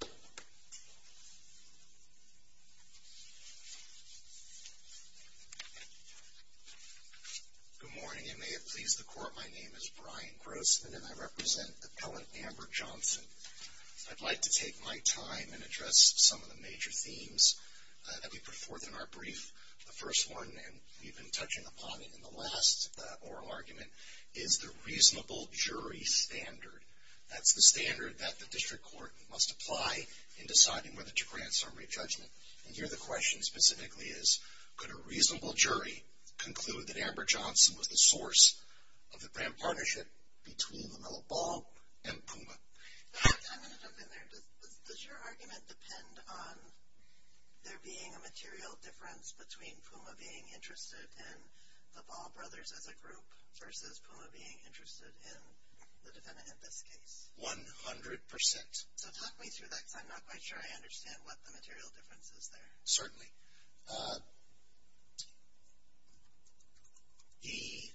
Good morning, and may it please the Court, my name is Brian Grossman, and I represent Appellant Amber Johnson. I'd like to take my time and address some of the major themes that we put forth in our brief. The first one, and we've been touching upon it in the last oral argument, is the reasonable jury standard. That's the standard that the District Court must apply in deciding whether to grant summary judgment. And here the question specifically is, could a reasonable jury conclude that Amber Johnson was the source of the grant partnership between LaMelo Ball and PUMA? I'm going to jump in there. Does your argument depend on there being a material difference between PUMA being interested in the Ball Brothers as a group versus PUMA being interested in the defendant in this case? One hundred percent. So talk me through that because I'm not quite sure I understand what the material difference is there. Certainly. The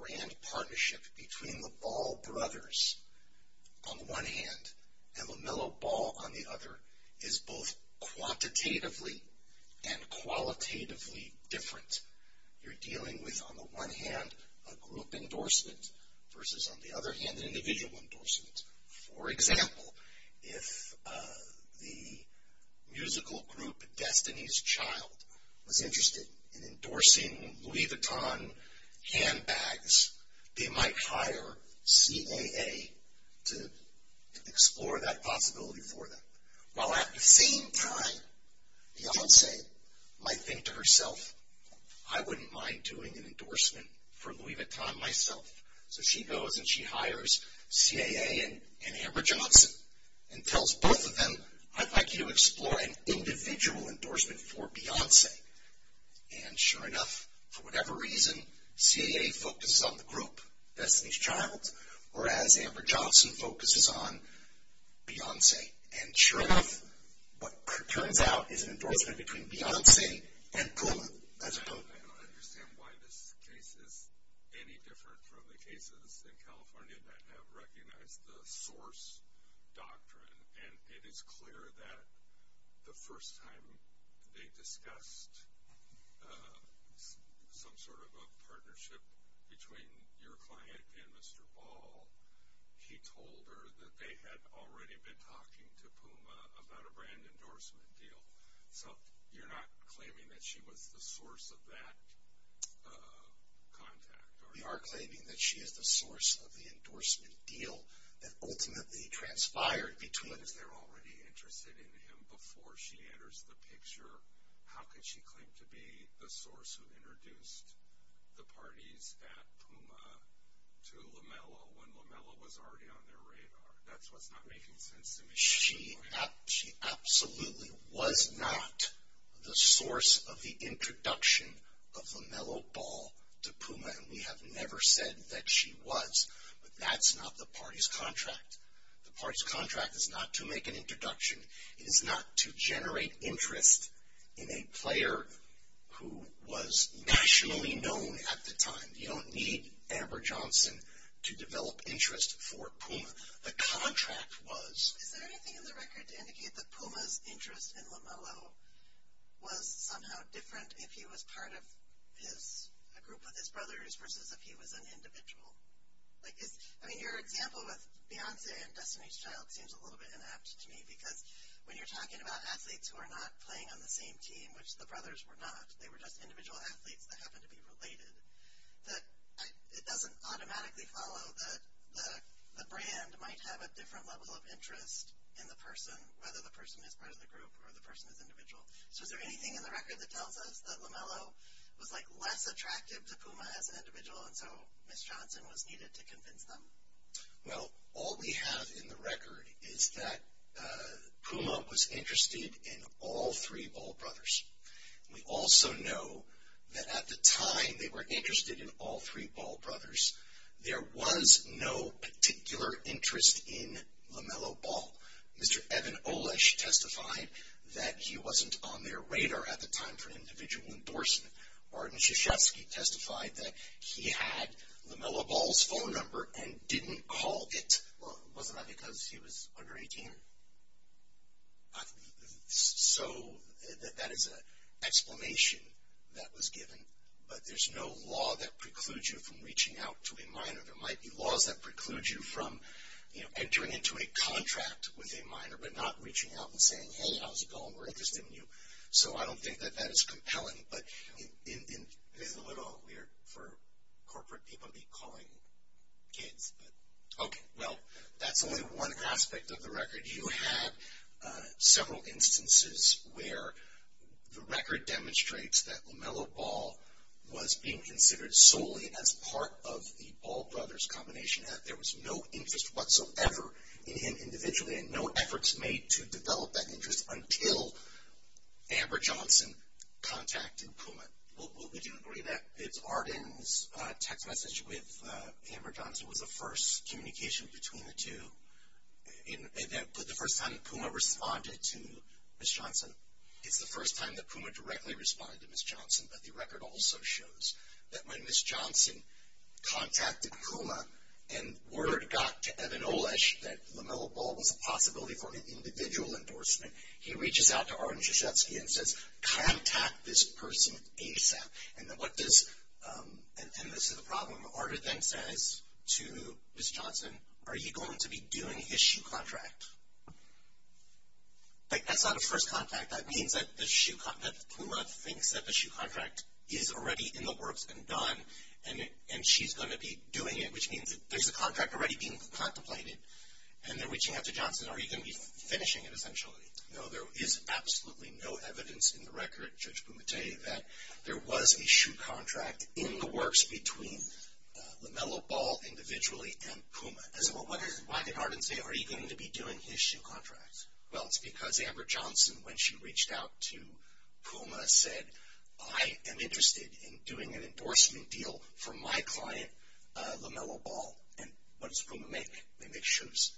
grant partnership between the Ball Brothers on the one hand, and LaMelo Ball on the other, is both quantitatively and qualitatively different. You're dealing with, on the one hand, a group endorsement versus, on the other hand, an individual endorsement. For example, if the musical group Destiny's Child was interested in endorsing Louis Vuitton handbags, they might hire CAA to explore that possibility for them. While at the same time, Beyonce might think to herself, I wouldn't mind doing an endorsement for Louis Vuitton myself. So she goes and she hires CAA and Amber Johnson and tells both of them, I'd like you to explore an individual endorsement for Beyonce. And sure enough, for whatever reason, CAA focuses on the group, Destiny's Child, whereas Amber Johnson focuses on Beyonce. And sure enough, what turns out is an endorsement between Beyonce and PUMA as a group. I don't understand why this case is any different from the cases in California that have recognized the source doctrine. And it is clear that the first time they discussed some sort of a partnership between your client and Mr. Ball, he told her that they had already been talking to PUMA about a brand endorsement deal. So you're not claiming that she was the source of that contact, are you? We are claiming that she is the source of the endorsement deal that ultimately transpired between them. But if they're already interested in him before she enters the picture, how could she claim to be the source who introduced the parties at PUMA to LaMelo when LaMelo was already on their radar? That's what's not making sense to me. She absolutely was not the source of the introduction of LaMelo Ball to PUMA, and we have no never said that she was. But that's not the party's contract. The party's contract is not to make an introduction. It is not to generate interest in a player who was nationally known at the time. You don't need Amber Johnson to develop interest for PUMA. The contract was... Is there anything in the record to indicate that PUMA's interest in LaMelo was somehow different if he was part of a group with his brothers versus if he was an individual? I mean, your example with Beyonce and Destiny's Child seems a little bit inapt to me because when you're talking about athletes who are not playing on the same team, which the brothers were not, they were just individual athletes that happened to be related, it doesn't automatically follow that the brand might have a different level of interest in the person, whether the person is part of the group or the person is individual. So is there anything in the record that tells us that LaMelo was, like, less attractive to PUMA as an individual and so Ms. Johnson was needed to convince them? Well, all we have in the record is that PUMA was interested in all three Ball brothers. We also know that at the time they were interested in all three Ball brothers, there was no particular interest in LaMelo Ball. Mr. Evan Olesh testified that he wasn't on their radar at the time for individual endorsement. Martin Krzyzewski testified that he had LaMelo Ball's phone number and didn't call it. Well, wasn't that because he was under 18? So that is an explanation that was given, but there's no law that precludes you from entering into a contract with a minor but not reaching out and saying, hey, how's it going? We're interested in you. So I don't think that that is compelling, but it is a little weird for corporate people to be calling kids. Okay, well, that's only one aspect of the record. You had several instances where the record demonstrates that LaMelo Ball was being considered solely as part of the Ball brothers combination, that there was no interest whatsoever in him individually and no efforts made to develop that interest until Amber Johnson contacted PUMA. Well, would you agree that it's Arden's text message with Amber Johnson was the first communication between the two, the first time that PUMA responded to Ms. Johnson? It's the first time that PUMA directly responded to Ms. Johnson, but the record also shows that when Ms. Johnson contacted PUMA and word got to Evan Olesch that LaMelo Ball was a possibility for an individual endorsement, he reaches out to Arden Krzyzewski and says, contact this person ASAP. And this is the problem. Arden then says to Ms. Johnson, are you going to be doing his shoe contract? That's not a first contact. That means that PUMA thinks that the shoe contract is already in the works and done, and she's going to be doing it, which means there's a contract already being contemplated, and they're reaching out to Johnson. Are you going to be finishing it, essentially? No, there is absolutely no evidence in the record, Judge Pumatay, that there was a shoe contract in the works between LaMelo Ball individually and PUMA. So why did Arden say, are you going to be doing his shoe contract? Well, it's because Amber Johnson, when she reached out to PUMA, said, I am interested in doing an endorsement deal for my client, LaMelo Ball. And what does PUMA make? They make shoes.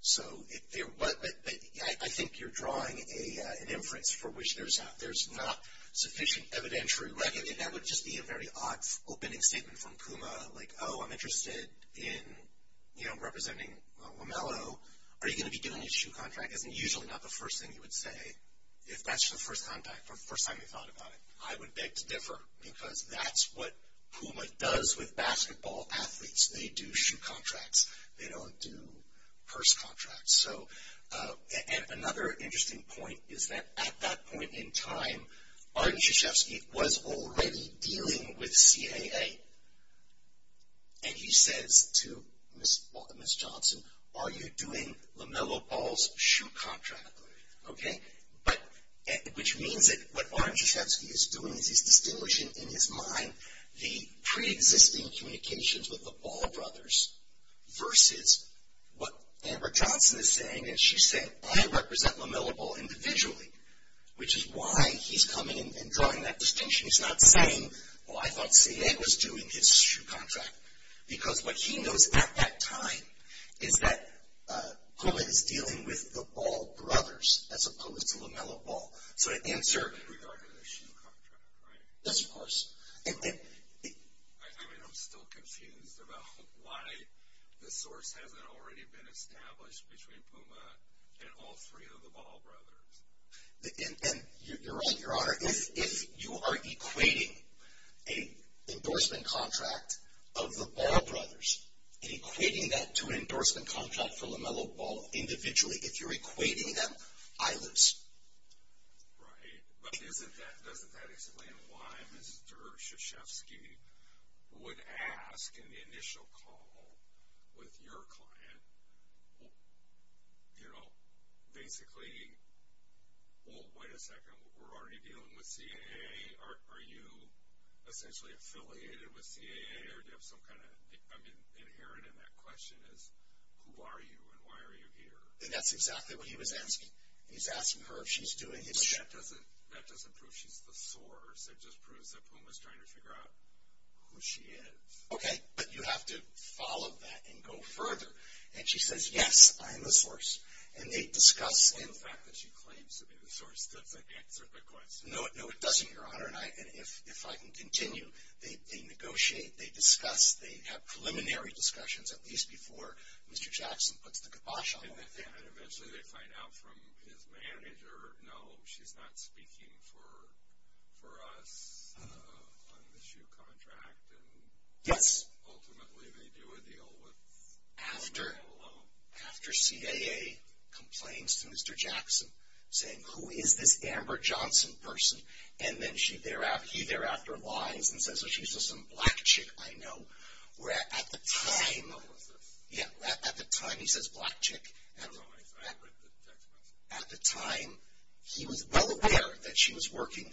So I think you're drawing an inference for which there's not sufficient evidentiary record, and that would just be a very odd opening statement from PUMA, like, oh, I'm interested in, you know, representing LaMelo. Are you going to be doing his shoe contract? Isn't usually not the first thing you would say if that's your first contact, or the first time you thought about it. I would beg to differ, because that's what PUMA does with basketball athletes. They do shoe contracts. They don't do purse contracts. So, and another interesting point is that at that point in time, Arden Krzyzewski was already dealing with CAA. And he says to Ms. Johnson, are you doing LaMelo Ball's shoe contract? Okay? But, which means that what Arden Krzyzewski is doing is he's distinguishing in his mind the preexisting communications with the Ball brothers versus what Amber Johnson is saying. And she said, I represent LaMelo Ball individually, which is why he's coming and drawing that distinction. She's not saying, well, I thought CAA was doing his shoe contract. Because what he knows at that time is that PUMA is dealing with the Ball brothers as opposed to LaMelo Ball. So, to answer. In regard to the shoe contract, right? Yes, of course. I mean, I'm still confused about why the source hasn't already been established between PUMA and all three of the Ball brothers. And you're right, Your Honor. If you are equating an endorsement contract of the Ball brothers and equating that to an endorsement contract for LaMelo Ball individually, if you're equating them, I lose. Right. But doesn't that explain why Mr. Krzyzewski would ask in the initial call with your client, you know, basically, well, wait a second, we're already dealing with CAA? Are you essentially affiliated with CAA? Or do you have some kind of, I mean, inherent in that question is, who are you and why are you here? And that's exactly what he was asking. He's asking her if she's doing his shoe. But that doesn't prove she's the source. It just proves that PUMA's trying to figure out who she is. Okay, but you have to follow that and go further. And she says, yes, I'm the source. And they discuss. Well, the fact that she claims to be the source doesn't answer the question. No, it doesn't, Your Honor. And if I can continue, they negotiate, they discuss, they have preliminary discussions, at least before Mr. Jackson puts the kibosh on them. And eventually they find out from his manager, no, she's not speaking for us on the shoe contract. Yes. Ultimately, they do a deal with PUMA alone. After CAA complains to Mr. Jackson, saying, who is this Amber Johnson person? And then he thereafter lies and says, oh, she's just some black chick I know. Where at the time. Who was this? Yeah, at the time he says black chick. I don't know. I read the text message. At the time, he was well aware that she was working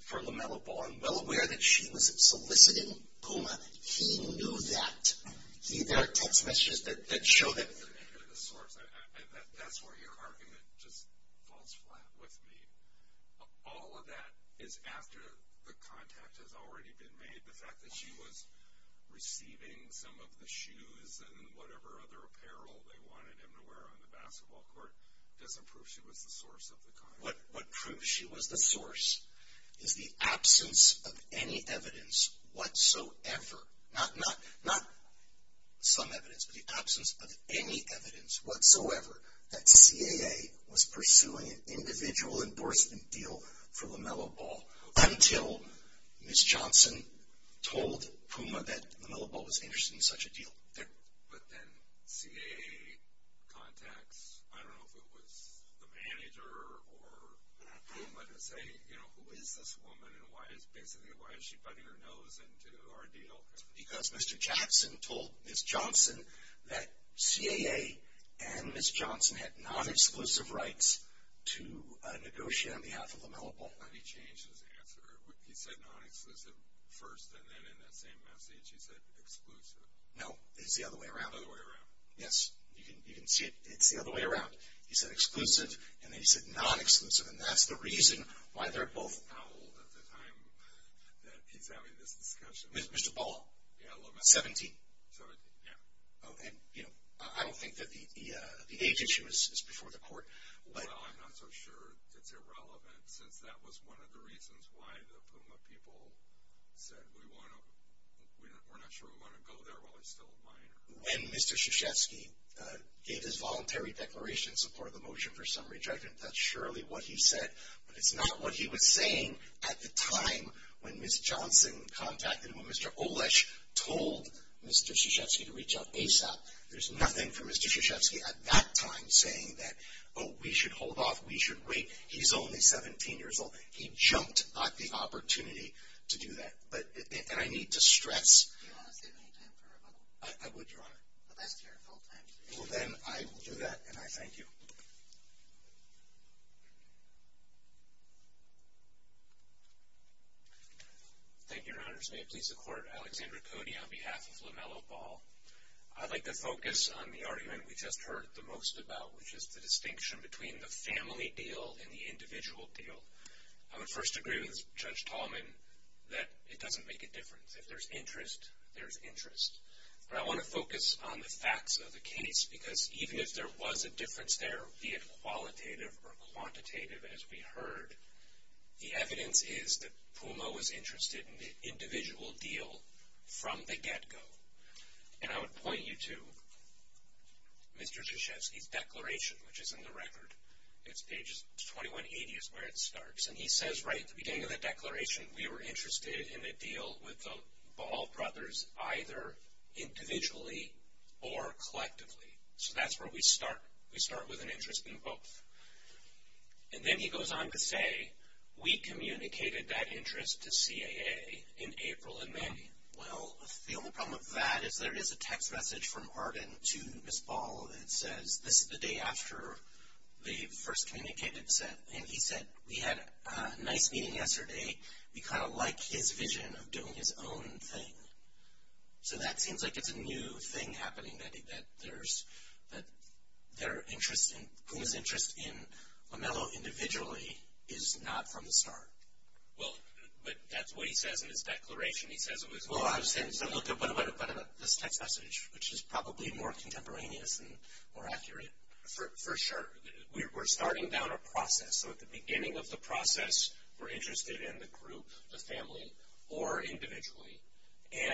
for LaMelo Ball and well aware that she was soliciting PUMA. He knew that. See, there are text messages that show that. That's where you're carving it just falls flat with me. All of that is after the contact has already been made. The fact that she was receiving some of the shoes and whatever other apparel they wanted him to wear on the basketball court doesn't prove she was the source of the contact. What proves she was the source is the absence of any evidence whatsoever. Not some evidence, but the absence of any evidence whatsoever that CAA was pursuing an individual endorsement deal for LaMelo Ball until Ms. Johnson told PUMA that LaMelo Ball was interested in such a deal. But then CAA contacts, I don't know if it was the manager or PUMA, to say who is this woman and basically why is she butting her nose into our deal? It's because Mr. Jackson told Ms. Johnson that CAA and Ms. Johnson had non-exclusive rights to negotiate on behalf of LaMelo Ball. But he changed his answer. He said non-exclusive first and then in that same message he said exclusive. No, it's the other way around. The other way around. Yes, you can see it's the other way around. He said exclusive and then he said non-exclusive, and that's the reason why they're both. How old at the time that he's having this discussion? Mr. Ball. Yeah, LaMelo. 17. 17, yeah. I don't think that the age issue is before the court. Well, I'm not so sure it's irrelevant since that was one of the reasons why the PUMA people said we're not sure we want to go there while he's still a minor. When Mr. Krzyzewski gave his voluntary declaration in support of the motion for summary judgment, that's surely what he said. But it's not what he was saying at the time when Ms. Johnson contacted him, when Mr. Olesz told Mr. Krzyzewski to reach out ASAP. There's nothing for Mr. Krzyzewski at that time saying that, oh, we should hold off, we should wait, he's only 17 years old. He jumped at the opportunity to do that. And I need to stress. Do you want to save any time for rebuttal? I would, Your Honor. But that's your full time. Well, then I will do that, and I thank you. Thank you, Your Honors. May it please the Court, Alexander Cody on behalf of LaMelo Ball. I'd like to focus on the argument we just heard the most about, which is the distinction between the family deal and the individual deal. I would first agree with Judge Tallman that it doesn't make a difference. If there's interest, there's interest. But I want to focus on the facts of the case, because even if there was a difference there, be it qualitative or quantitative as we heard, the evidence is that PUMO was interested in the individual deal from the get-go. And I would point you to Mr. Krzyzewski's declaration, which is in the record. It's pages 2180 is where it starts. And he says right at the beginning of the declaration, we were interested in a deal with the Ball brothers either individually or collectively. So that's where we start. We start with an interest in both. And then he goes on to say, we communicated that interest to CAA in April and May. Well, the only problem with that is there is a text message from Arden to Ms. Ball that says, this is the day after they first communicated. And he said, we had a nice meeting yesterday. We kind of like his vision of doing his own thing. So that seems like it's a new thing happening, that PUMO's interest in Lamello individually is not from the start. Well, but that's what he says in his declaration. He says it was this text message, which is probably more contemporaneous and more accurate. For sure. We're starting down a process. So at the beginning of the process, we're interested in the group, the family, or individually.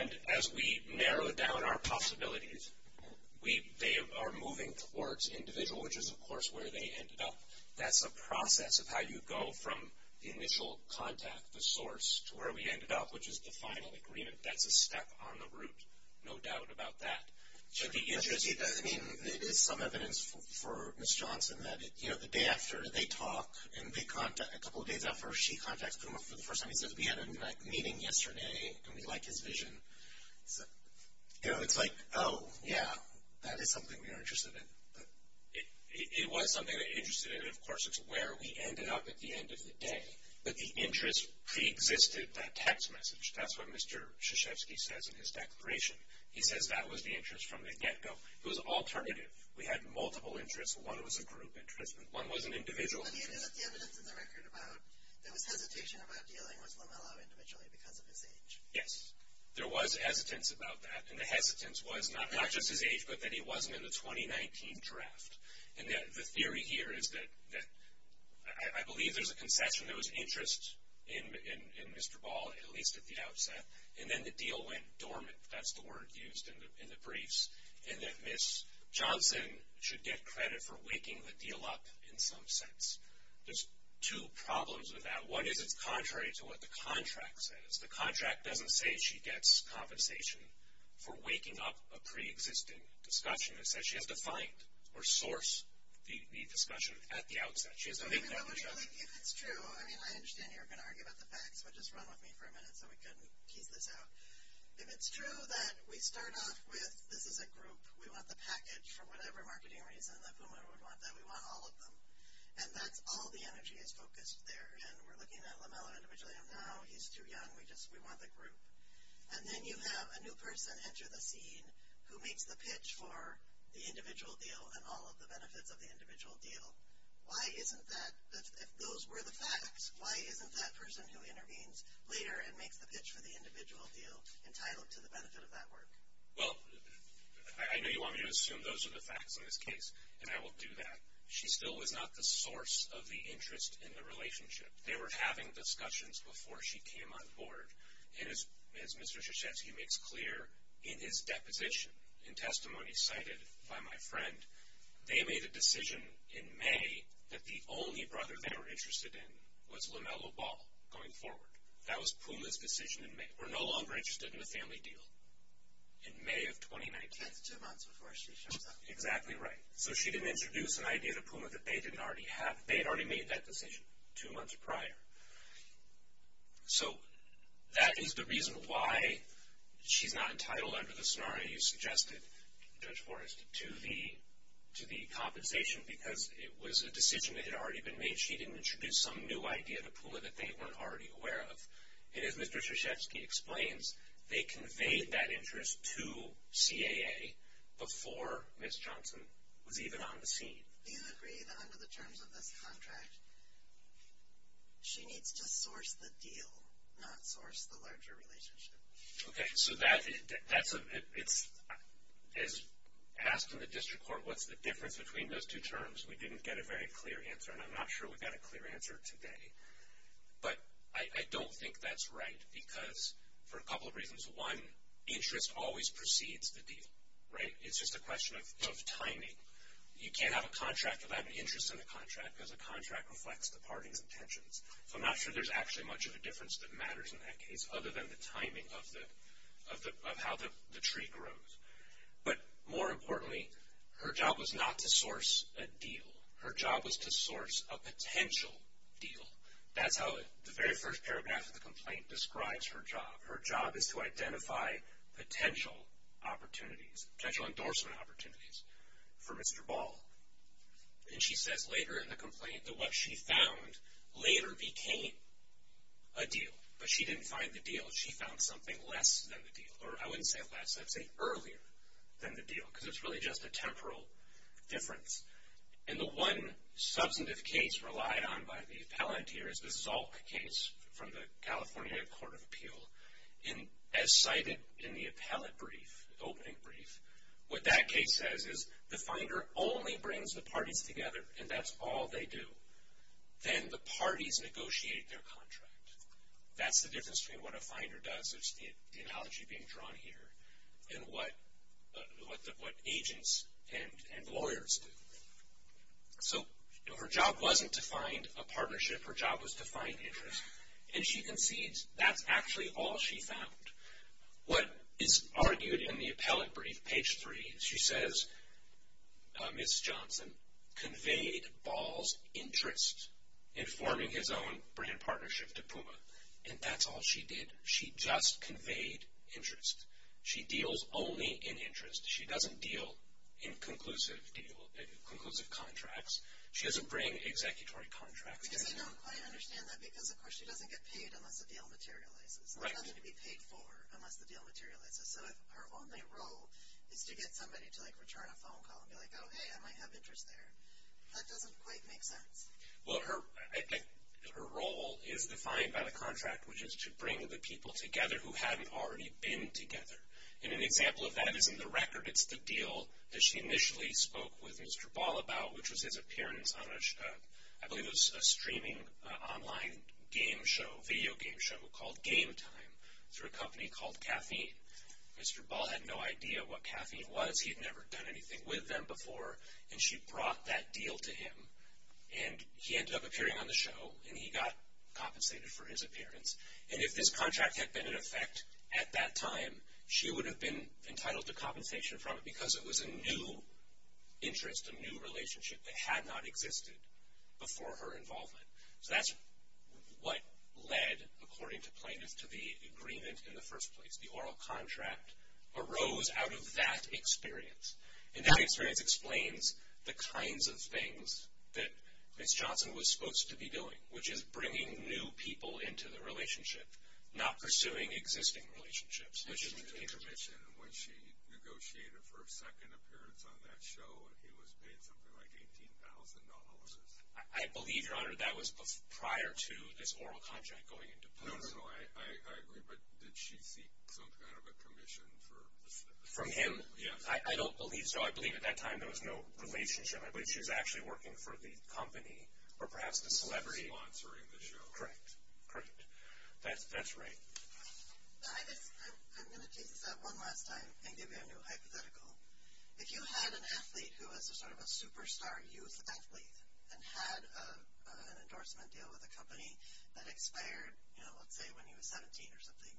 And as we narrow down our possibilities, they are moving towards individual, which is, of course, where they ended up. That's a process of how you go from the initial contact, the source, to where we ended up, which is the final agreement. That's a step on the route. No doubt about that. I mean, it is some evidence for Ms. Johnson that, you know, the day after they talk, and a couple of days after she contacts PUMO for the first time, he says, we had a meeting yesterday, and we like his vision. You know, it's like, oh, yeah, that is something we are interested in. It was something they were interested in. Of course, it's where we ended up at the end of the day. But the interest preexisted that text message. That's what Mr. Krzyzewski says in his declaration. He says that was the interest from the get-go. It was alternative. We had multiple interests. One was a group interest, and one was an individual interest. But he ended up, the evidence in the record about there was hesitation about dealing with Lamella individually because of his age. Yes. There was hesitance about that. And the hesitance was not just his age, but that he wasn't in the 2019 draft. And the theory here is that I believe there's a concession. There was interest in Mr. Ball, at least at the outset. And then the deal went dormant. That's the word used in the briefs. And that Ms. Johnson should get credit for waking the deal up in some sense. There's two problems with that. One is it's contrary to what the contract says. The contract doesn't say she gets compensation for waking up a preexisting discussion. It says she has to find or source the discussion at the outset. If it's true, I mean, I understand you're going to argue about the facts, but just run with me for a minute so we can piece this out. If it's true that we start off with this is a group, we want the package for whatever marketing reason that Puma would want that, we want all of them. And that's all the energy is focused there. And we're looking at Lamella individually. No, he's too young. We want the group. And then you have a new person enter the scene who makes the pitch for the individual deal and all of the benefits of the individual deal. Why isn't that, if those were the facts, why isn't that person who intervenes later and makes the pitch for the individual deal entitled to the benefit of that work? Well, I know you want me to assume those are the facts in this case, and I will do that. She still was not the source of the interest in the relationship. They were having discussions before she came on board. And as Mr. Krzyzewski makes clear in his deposition and testimony cited by my friend, they made a decision in May that the only brother they were interested in was Lamella Ball going forward. That was Puma's decision in May. We're no longer interested in a family deal in May of 2019. That's two months before she shows up. Exactly right. So she didn't introduce an idea to Puma that they didn't already have. They had already made that decision two months prior. So that is the reason why she's not entitled under the scenario you suggested, Judge Forrest, to the compensation because it was a decision that had already been made. She didn't introduce some new idea to Puma that they weren't already aware of. And as Mr. Krzyzewski explains, they conveyed that interest to CAA before Ms. Johnson was even on the scene. Do you agree that under the terms of this contract, she needs to source the deal, not source the larger relationship? Okay. So that's a, as asked in the district court, what's the difference between those two terms? We didn't get a very clear answer. And I'm not sure we got a clear answer today. But I don't think that's right because for a couple of reasons. One, interest always precedes the deal. Right? It's just a question of timing. You can't have a contract without an interest in the contract because a contract reflects departing intentions. So I'm not sure there's actually much of a difference that matters in that case other than the timing of how the tree grows. But more importantly, her job was not to source a deal. Her job was to source a potential deal. That's how the very first paragraph of the complaint describes her job. Her job is to identify potential opportunities, potential endorsement opportunities for Mr. Ball. And she says later in the complaint that what she found later became a deal. But she didn't find the deal. She found something less than the deal. Or I wouldn't say less. I'd say earlier than the deal because it's really just a temporal difference. And the one substantive case relied on by the appellant here is the Zalk case from the California Court of Appeal. And as cited in the appellate brief, opening brief, what that case says is the finder only brings the parties together. And that's all they do. Then the parties negotiate their contract. That's the difference between what a finder does, which is the analogy being drawn here, and what agents and lawyers do. So her job wasn't to find a partnership. Her job was to find interest. And she concedes that's actually all she found. What is argued in the appellate brief, page 3, she says Ms. Johnson conveyed Ball's interest in forming his own brand partnership to Puma. And that's all she did. She just conveyed interest. She deals only in interest. She doesn't deal in conclusive contracts. She doesn't bring executory contracts. I don't quite understand that because, of course, she doesn't get paid unless the deal materializes. It doesn't get paid for unless the deal materializes. So if her only role is to get somebody to, like, return a phone call and be like, oh, hey, I might have interest there, that doesn't quite make sense. Well, her role is defined by the contract, which is to bring the people together who hadn't already been together. And an example of that is in the record. It's the deal that she initially spoke with Mr. Ball about, which was his appearance on a, I believe it was a streaming online game show, video game show, called Game Time through a company called Caffeine. Mr. Ball had no idea what Caffeine was. He had never done anything with them before. And she brought that deal to him. And he ended up appearing on the show. And he got compensated for his appearance. And if this contract had been in effect at that time, she would have been entitled to compensation from it because it was a new interest, a new relationship that had not existed before her involvement. So that's what led, according to plaintiffs, to the agreement in the first place. The oral contract arose out of that experience. And that experience explains the kinds of things that Ms. Johnson was supposed to be doing, which is bringing new people into the relationship, not pursuing existing relationships, which is the intermission. When she negotiated for a second appearance on that show, he was paid something like $18,000. I believe, Your Honor, that was prior to this oral contract going into place. No, no, no. I agree. But did she seek some kind of a commission for this? From him? Yes. I don't believe so. I believe at that time there was no relationship. I believe she was actually working for the company or perhaps the celebrity. Sponsoring the show. Correct. Correct. That's right. I guess I'm going to take this one last time and give you a new hypothetical. If you had an athlete who was sort of a superstar youth athlete and had an endorsement deal with a company that expired, you know, let's say when he was 17 or something,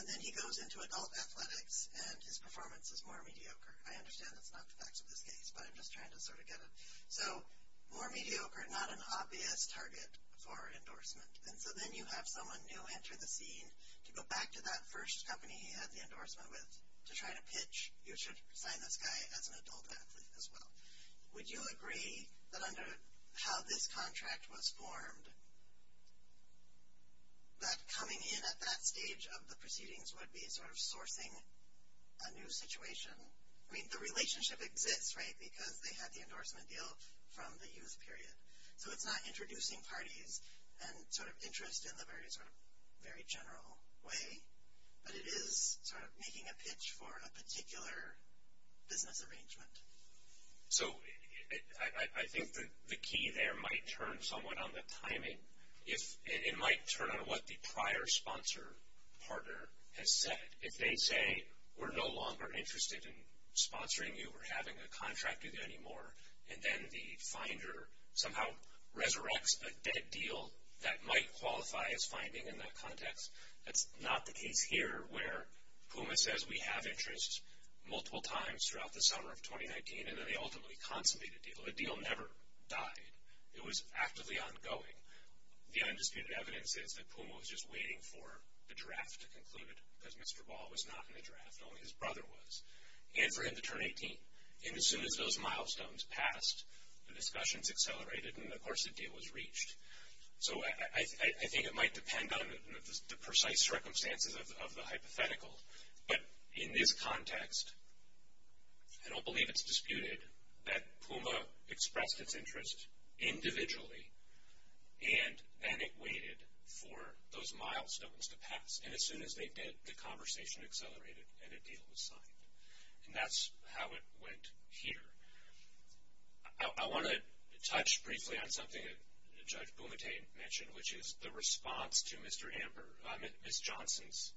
and then he goes into adult athletics and his performance is more mediocre. I understand that's not the facts of this case, but I'm just trying to sort of get it. So more mediocre, not an obvious target for endorsement. And so then you have someone new enter the scene. To go back to that first company he had the endorsement with, to try to pitch, you should sign this guy as an adult athlete as well. Would you agree that under how this contract was formed, that coming in at that stage of the proceedings would be sort of sourcing a new situation? I mean, the relationship exists, right, because they had the endorsement deal from the youth period. So it's not introducing parties and sort of interest in the very sort of very general way, but it is sort of making a pitch for a particular business arrangement. So I think the key there might turn somewhat on the timing. It might turn on what the prior sponsor partner has said. If they say, we're no longer interested in sponsoring you or having a contract with you anymore, and then the finder somehow resurrects a dead deal that might qualify as finding in that context. That's not the case here, where PUMA says we have interest multiple times throughout the summer of 2019, and then they ultimately consolidate a deal. A deal never died. It was actively ongoing. The undisputed evidence is that PUMA was just waiting for the draft to conclude it, because Mr. Ball was not in the draft. Only his brother was. And for him to turn 18. And as soon as those milestones passed, the discussions accelerated, and of course the deal was reached. So I think it might depend on the precise circumstances of the hypothetical. But in this context, I don't believe it's disputed that PUMA expressed its interest individually, and then it waited for those milestones to pass. And as soon as they did, the conversation accelerated and a deal was signed. And that's how it went here. I want to touch briefly on something that Judge Bumate mentioned, which is the response to Mr. Amber. Ms. Johnson's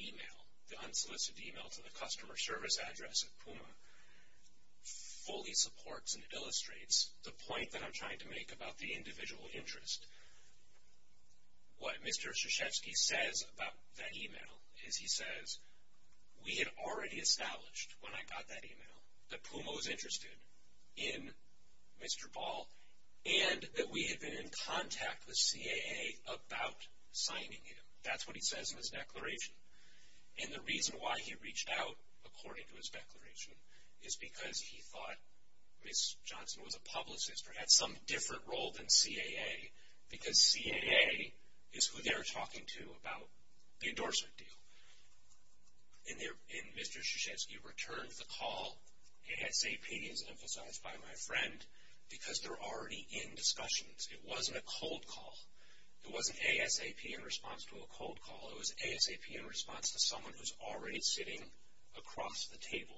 email, the unsolicited email to the customer service address of PUMA, fully supports and illustrates the point that I'm trying to make about the individual interest. What Mr. Krzyzewski says about that email is he says, we had already established when I got that email that PUMA was interested in Mr. Ball, and that we had been in contact with CAA about signing him. That's what he says in his declaration. And the reason why he reached out, according to his declaration, is because he thought Ms. Johnson was a publicist or had some different role than CAA, because CAA is who they're talking to about the endorsement deal. And Mr. Krzyzewski returned the call, ASAP as emphasized by my friend, because they're already in discussions. It wasn't a cold call. It wasn't ASAP in response to a cold call. It was ASAP in response to someone who's already sitting across the table,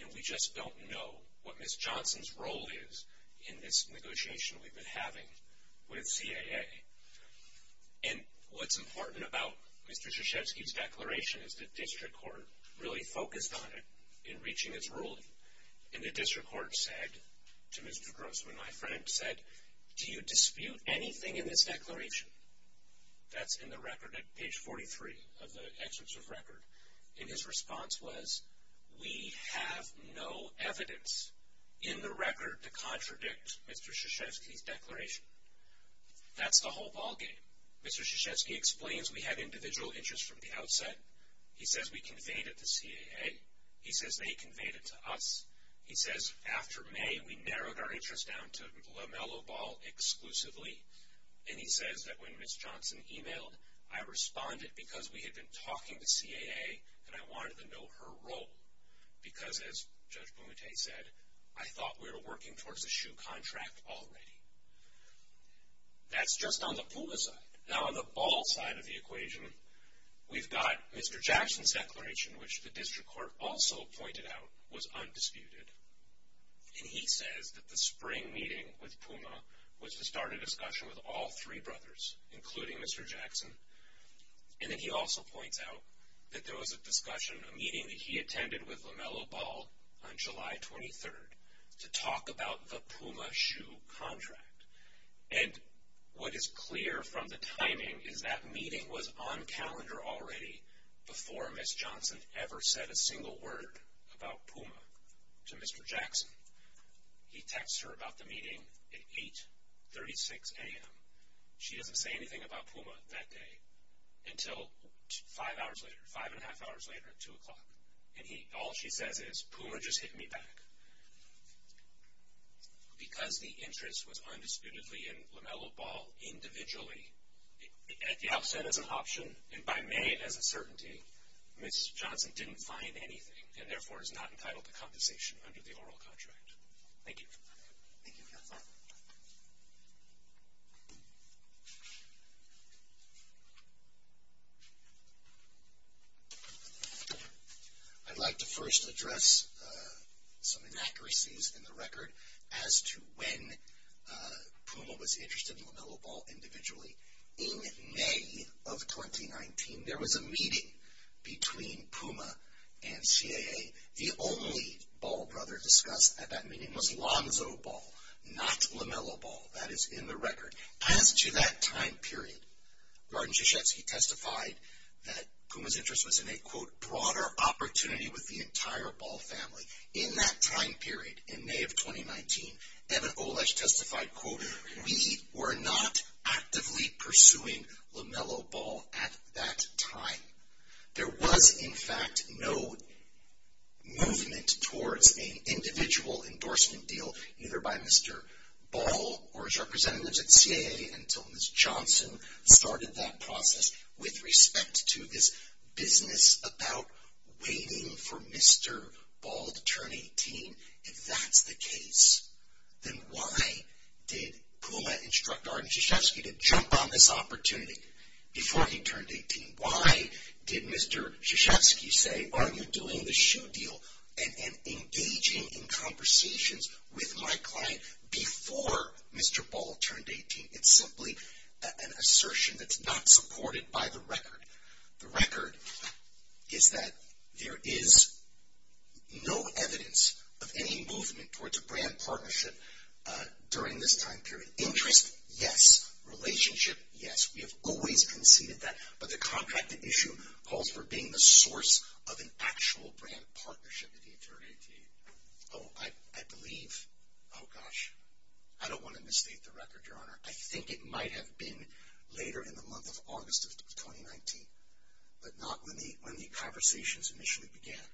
and we just don't know what Ms. Johnson's role is in this negotiation we've been having with CAA. And what's important about Mr. Krzyzewski's declaration is the district court really focused on it in reaching its ruling. And the district court said to Mr. Grossman, my friend, said, do you dispute anything in this declaration? That's in the record at page 43 of the excerpts of record. And his response was, we have no evidence in the record to contradict Mr. Krzyzewski's declaration. That's the whole ballgame. Mr. Krzyzewski explains we had individual interest from the outset. He says we conveyed it to CAA. He says they conveyed it to us. He says after May, we narrowed our interest down to Lomelo Ball exclusively. And he says that when Ms. Johnson emailed, I responded because we had been talking to CAA, and I wanted to know her role because, as Judge Bumate said, I thought we were working towards a SHU contract already. That's just on the PUMA side. Now, on the Ball side of the equation, we've got Mr. Jackson's declaration, which the district court also pointed out was undisputed. And he says that the spring meeting with PUMA was to start a discussion with all three brothers, including Mr. Jackson. And then he also points out that there was a discussion, a meeting that he attended with Lomelo Ball on July 23rd to talk about the PUMA SHU contract. And what is clear from the timing is that meeting was on calendar already before Ms. Johnson ever said a single word about PUMA to Mr. Jackson. He texts her about the meeting at 8.36 a.m. She doesn't say anything about PUMA that day until five hours later, five and a half hours later at 2 o'clock. And all she says is, PUMA just hit me back. Because the interest was undisputedly in Lomelo Ball individually, at the outset as an option and by May as a certainty, Ms. Johnson didn't find anything and therefore is not entitled to compensation under the oral contract. Thank you. Thank you. I'd like to first address some inaccuracies in the record as to when PUMA was interested in Lomelo Ball individually. In May of 2019, there was a meeting between PUMA and CAA. The only Ball brother discussed at that meeting was Lonzo Ball, not Lomelo Ball. That is in the record. As to that time period, Gordon Krzyzewski testified that PUMA's interest was in a, quote, broader opportunity with the entire Ball family. In that time period, in May of 2019, Evan Olesch testified, quote, we were not actively pursuing Lomelo Ball at that time. There was, in fact, no movement towards an individual endorsement deal, either by Mr. Ball or his representatives at CAA until Ms. Johnson started that process with respect to this business about waiting for Mr. Ball to turn 18. If that's the case, then why did PUMA instruct Gordon Krzyzewski to jump on this opportunity before he turned 18? Why did Mr. Krzyzewski say, aren't you doing the shoe deal and engaging in conversations with my client before Mr. Ball turned 18? It's simply an assertion that's not supported by the record. The record is that there is no evidence of any movement towards a brand partnership during this time period. Interest, yes. Relationship, yes. We have always conceded that, but the contracted issue calls for being the source of an actual brand partnership at the turn of 18. Oh, I believe, oh gosh, I don't want to misstate the record, Your Honor. I think it might have been later in the month of August of 2019, but not when the conversations initially began.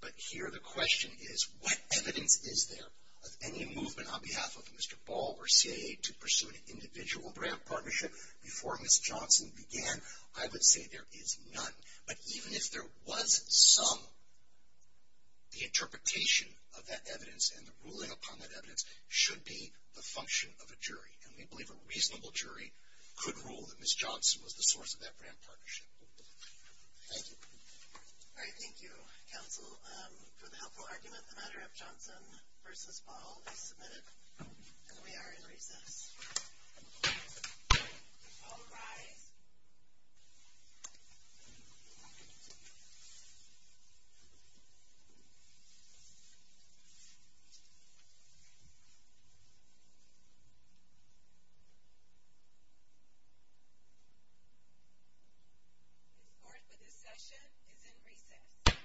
But here the question is, what evidence is there of any movement on behalf of Mr. Ball or CAA to pursue an individual brand partnership before Ms. Johnson began? I would say there is none. But even if there was some, the interpretation of that evidence and the ruling upon that evidence should be the function of a jury. And we believe a reasonable jury could rule that Ms. Johnson was the source of that brand partnership. Thank you. All right, thank you, counsel, for the helpful argument. The matter of Johnson versus Ball is submitted, and we are in recess. All rise. The court for this session is in recess.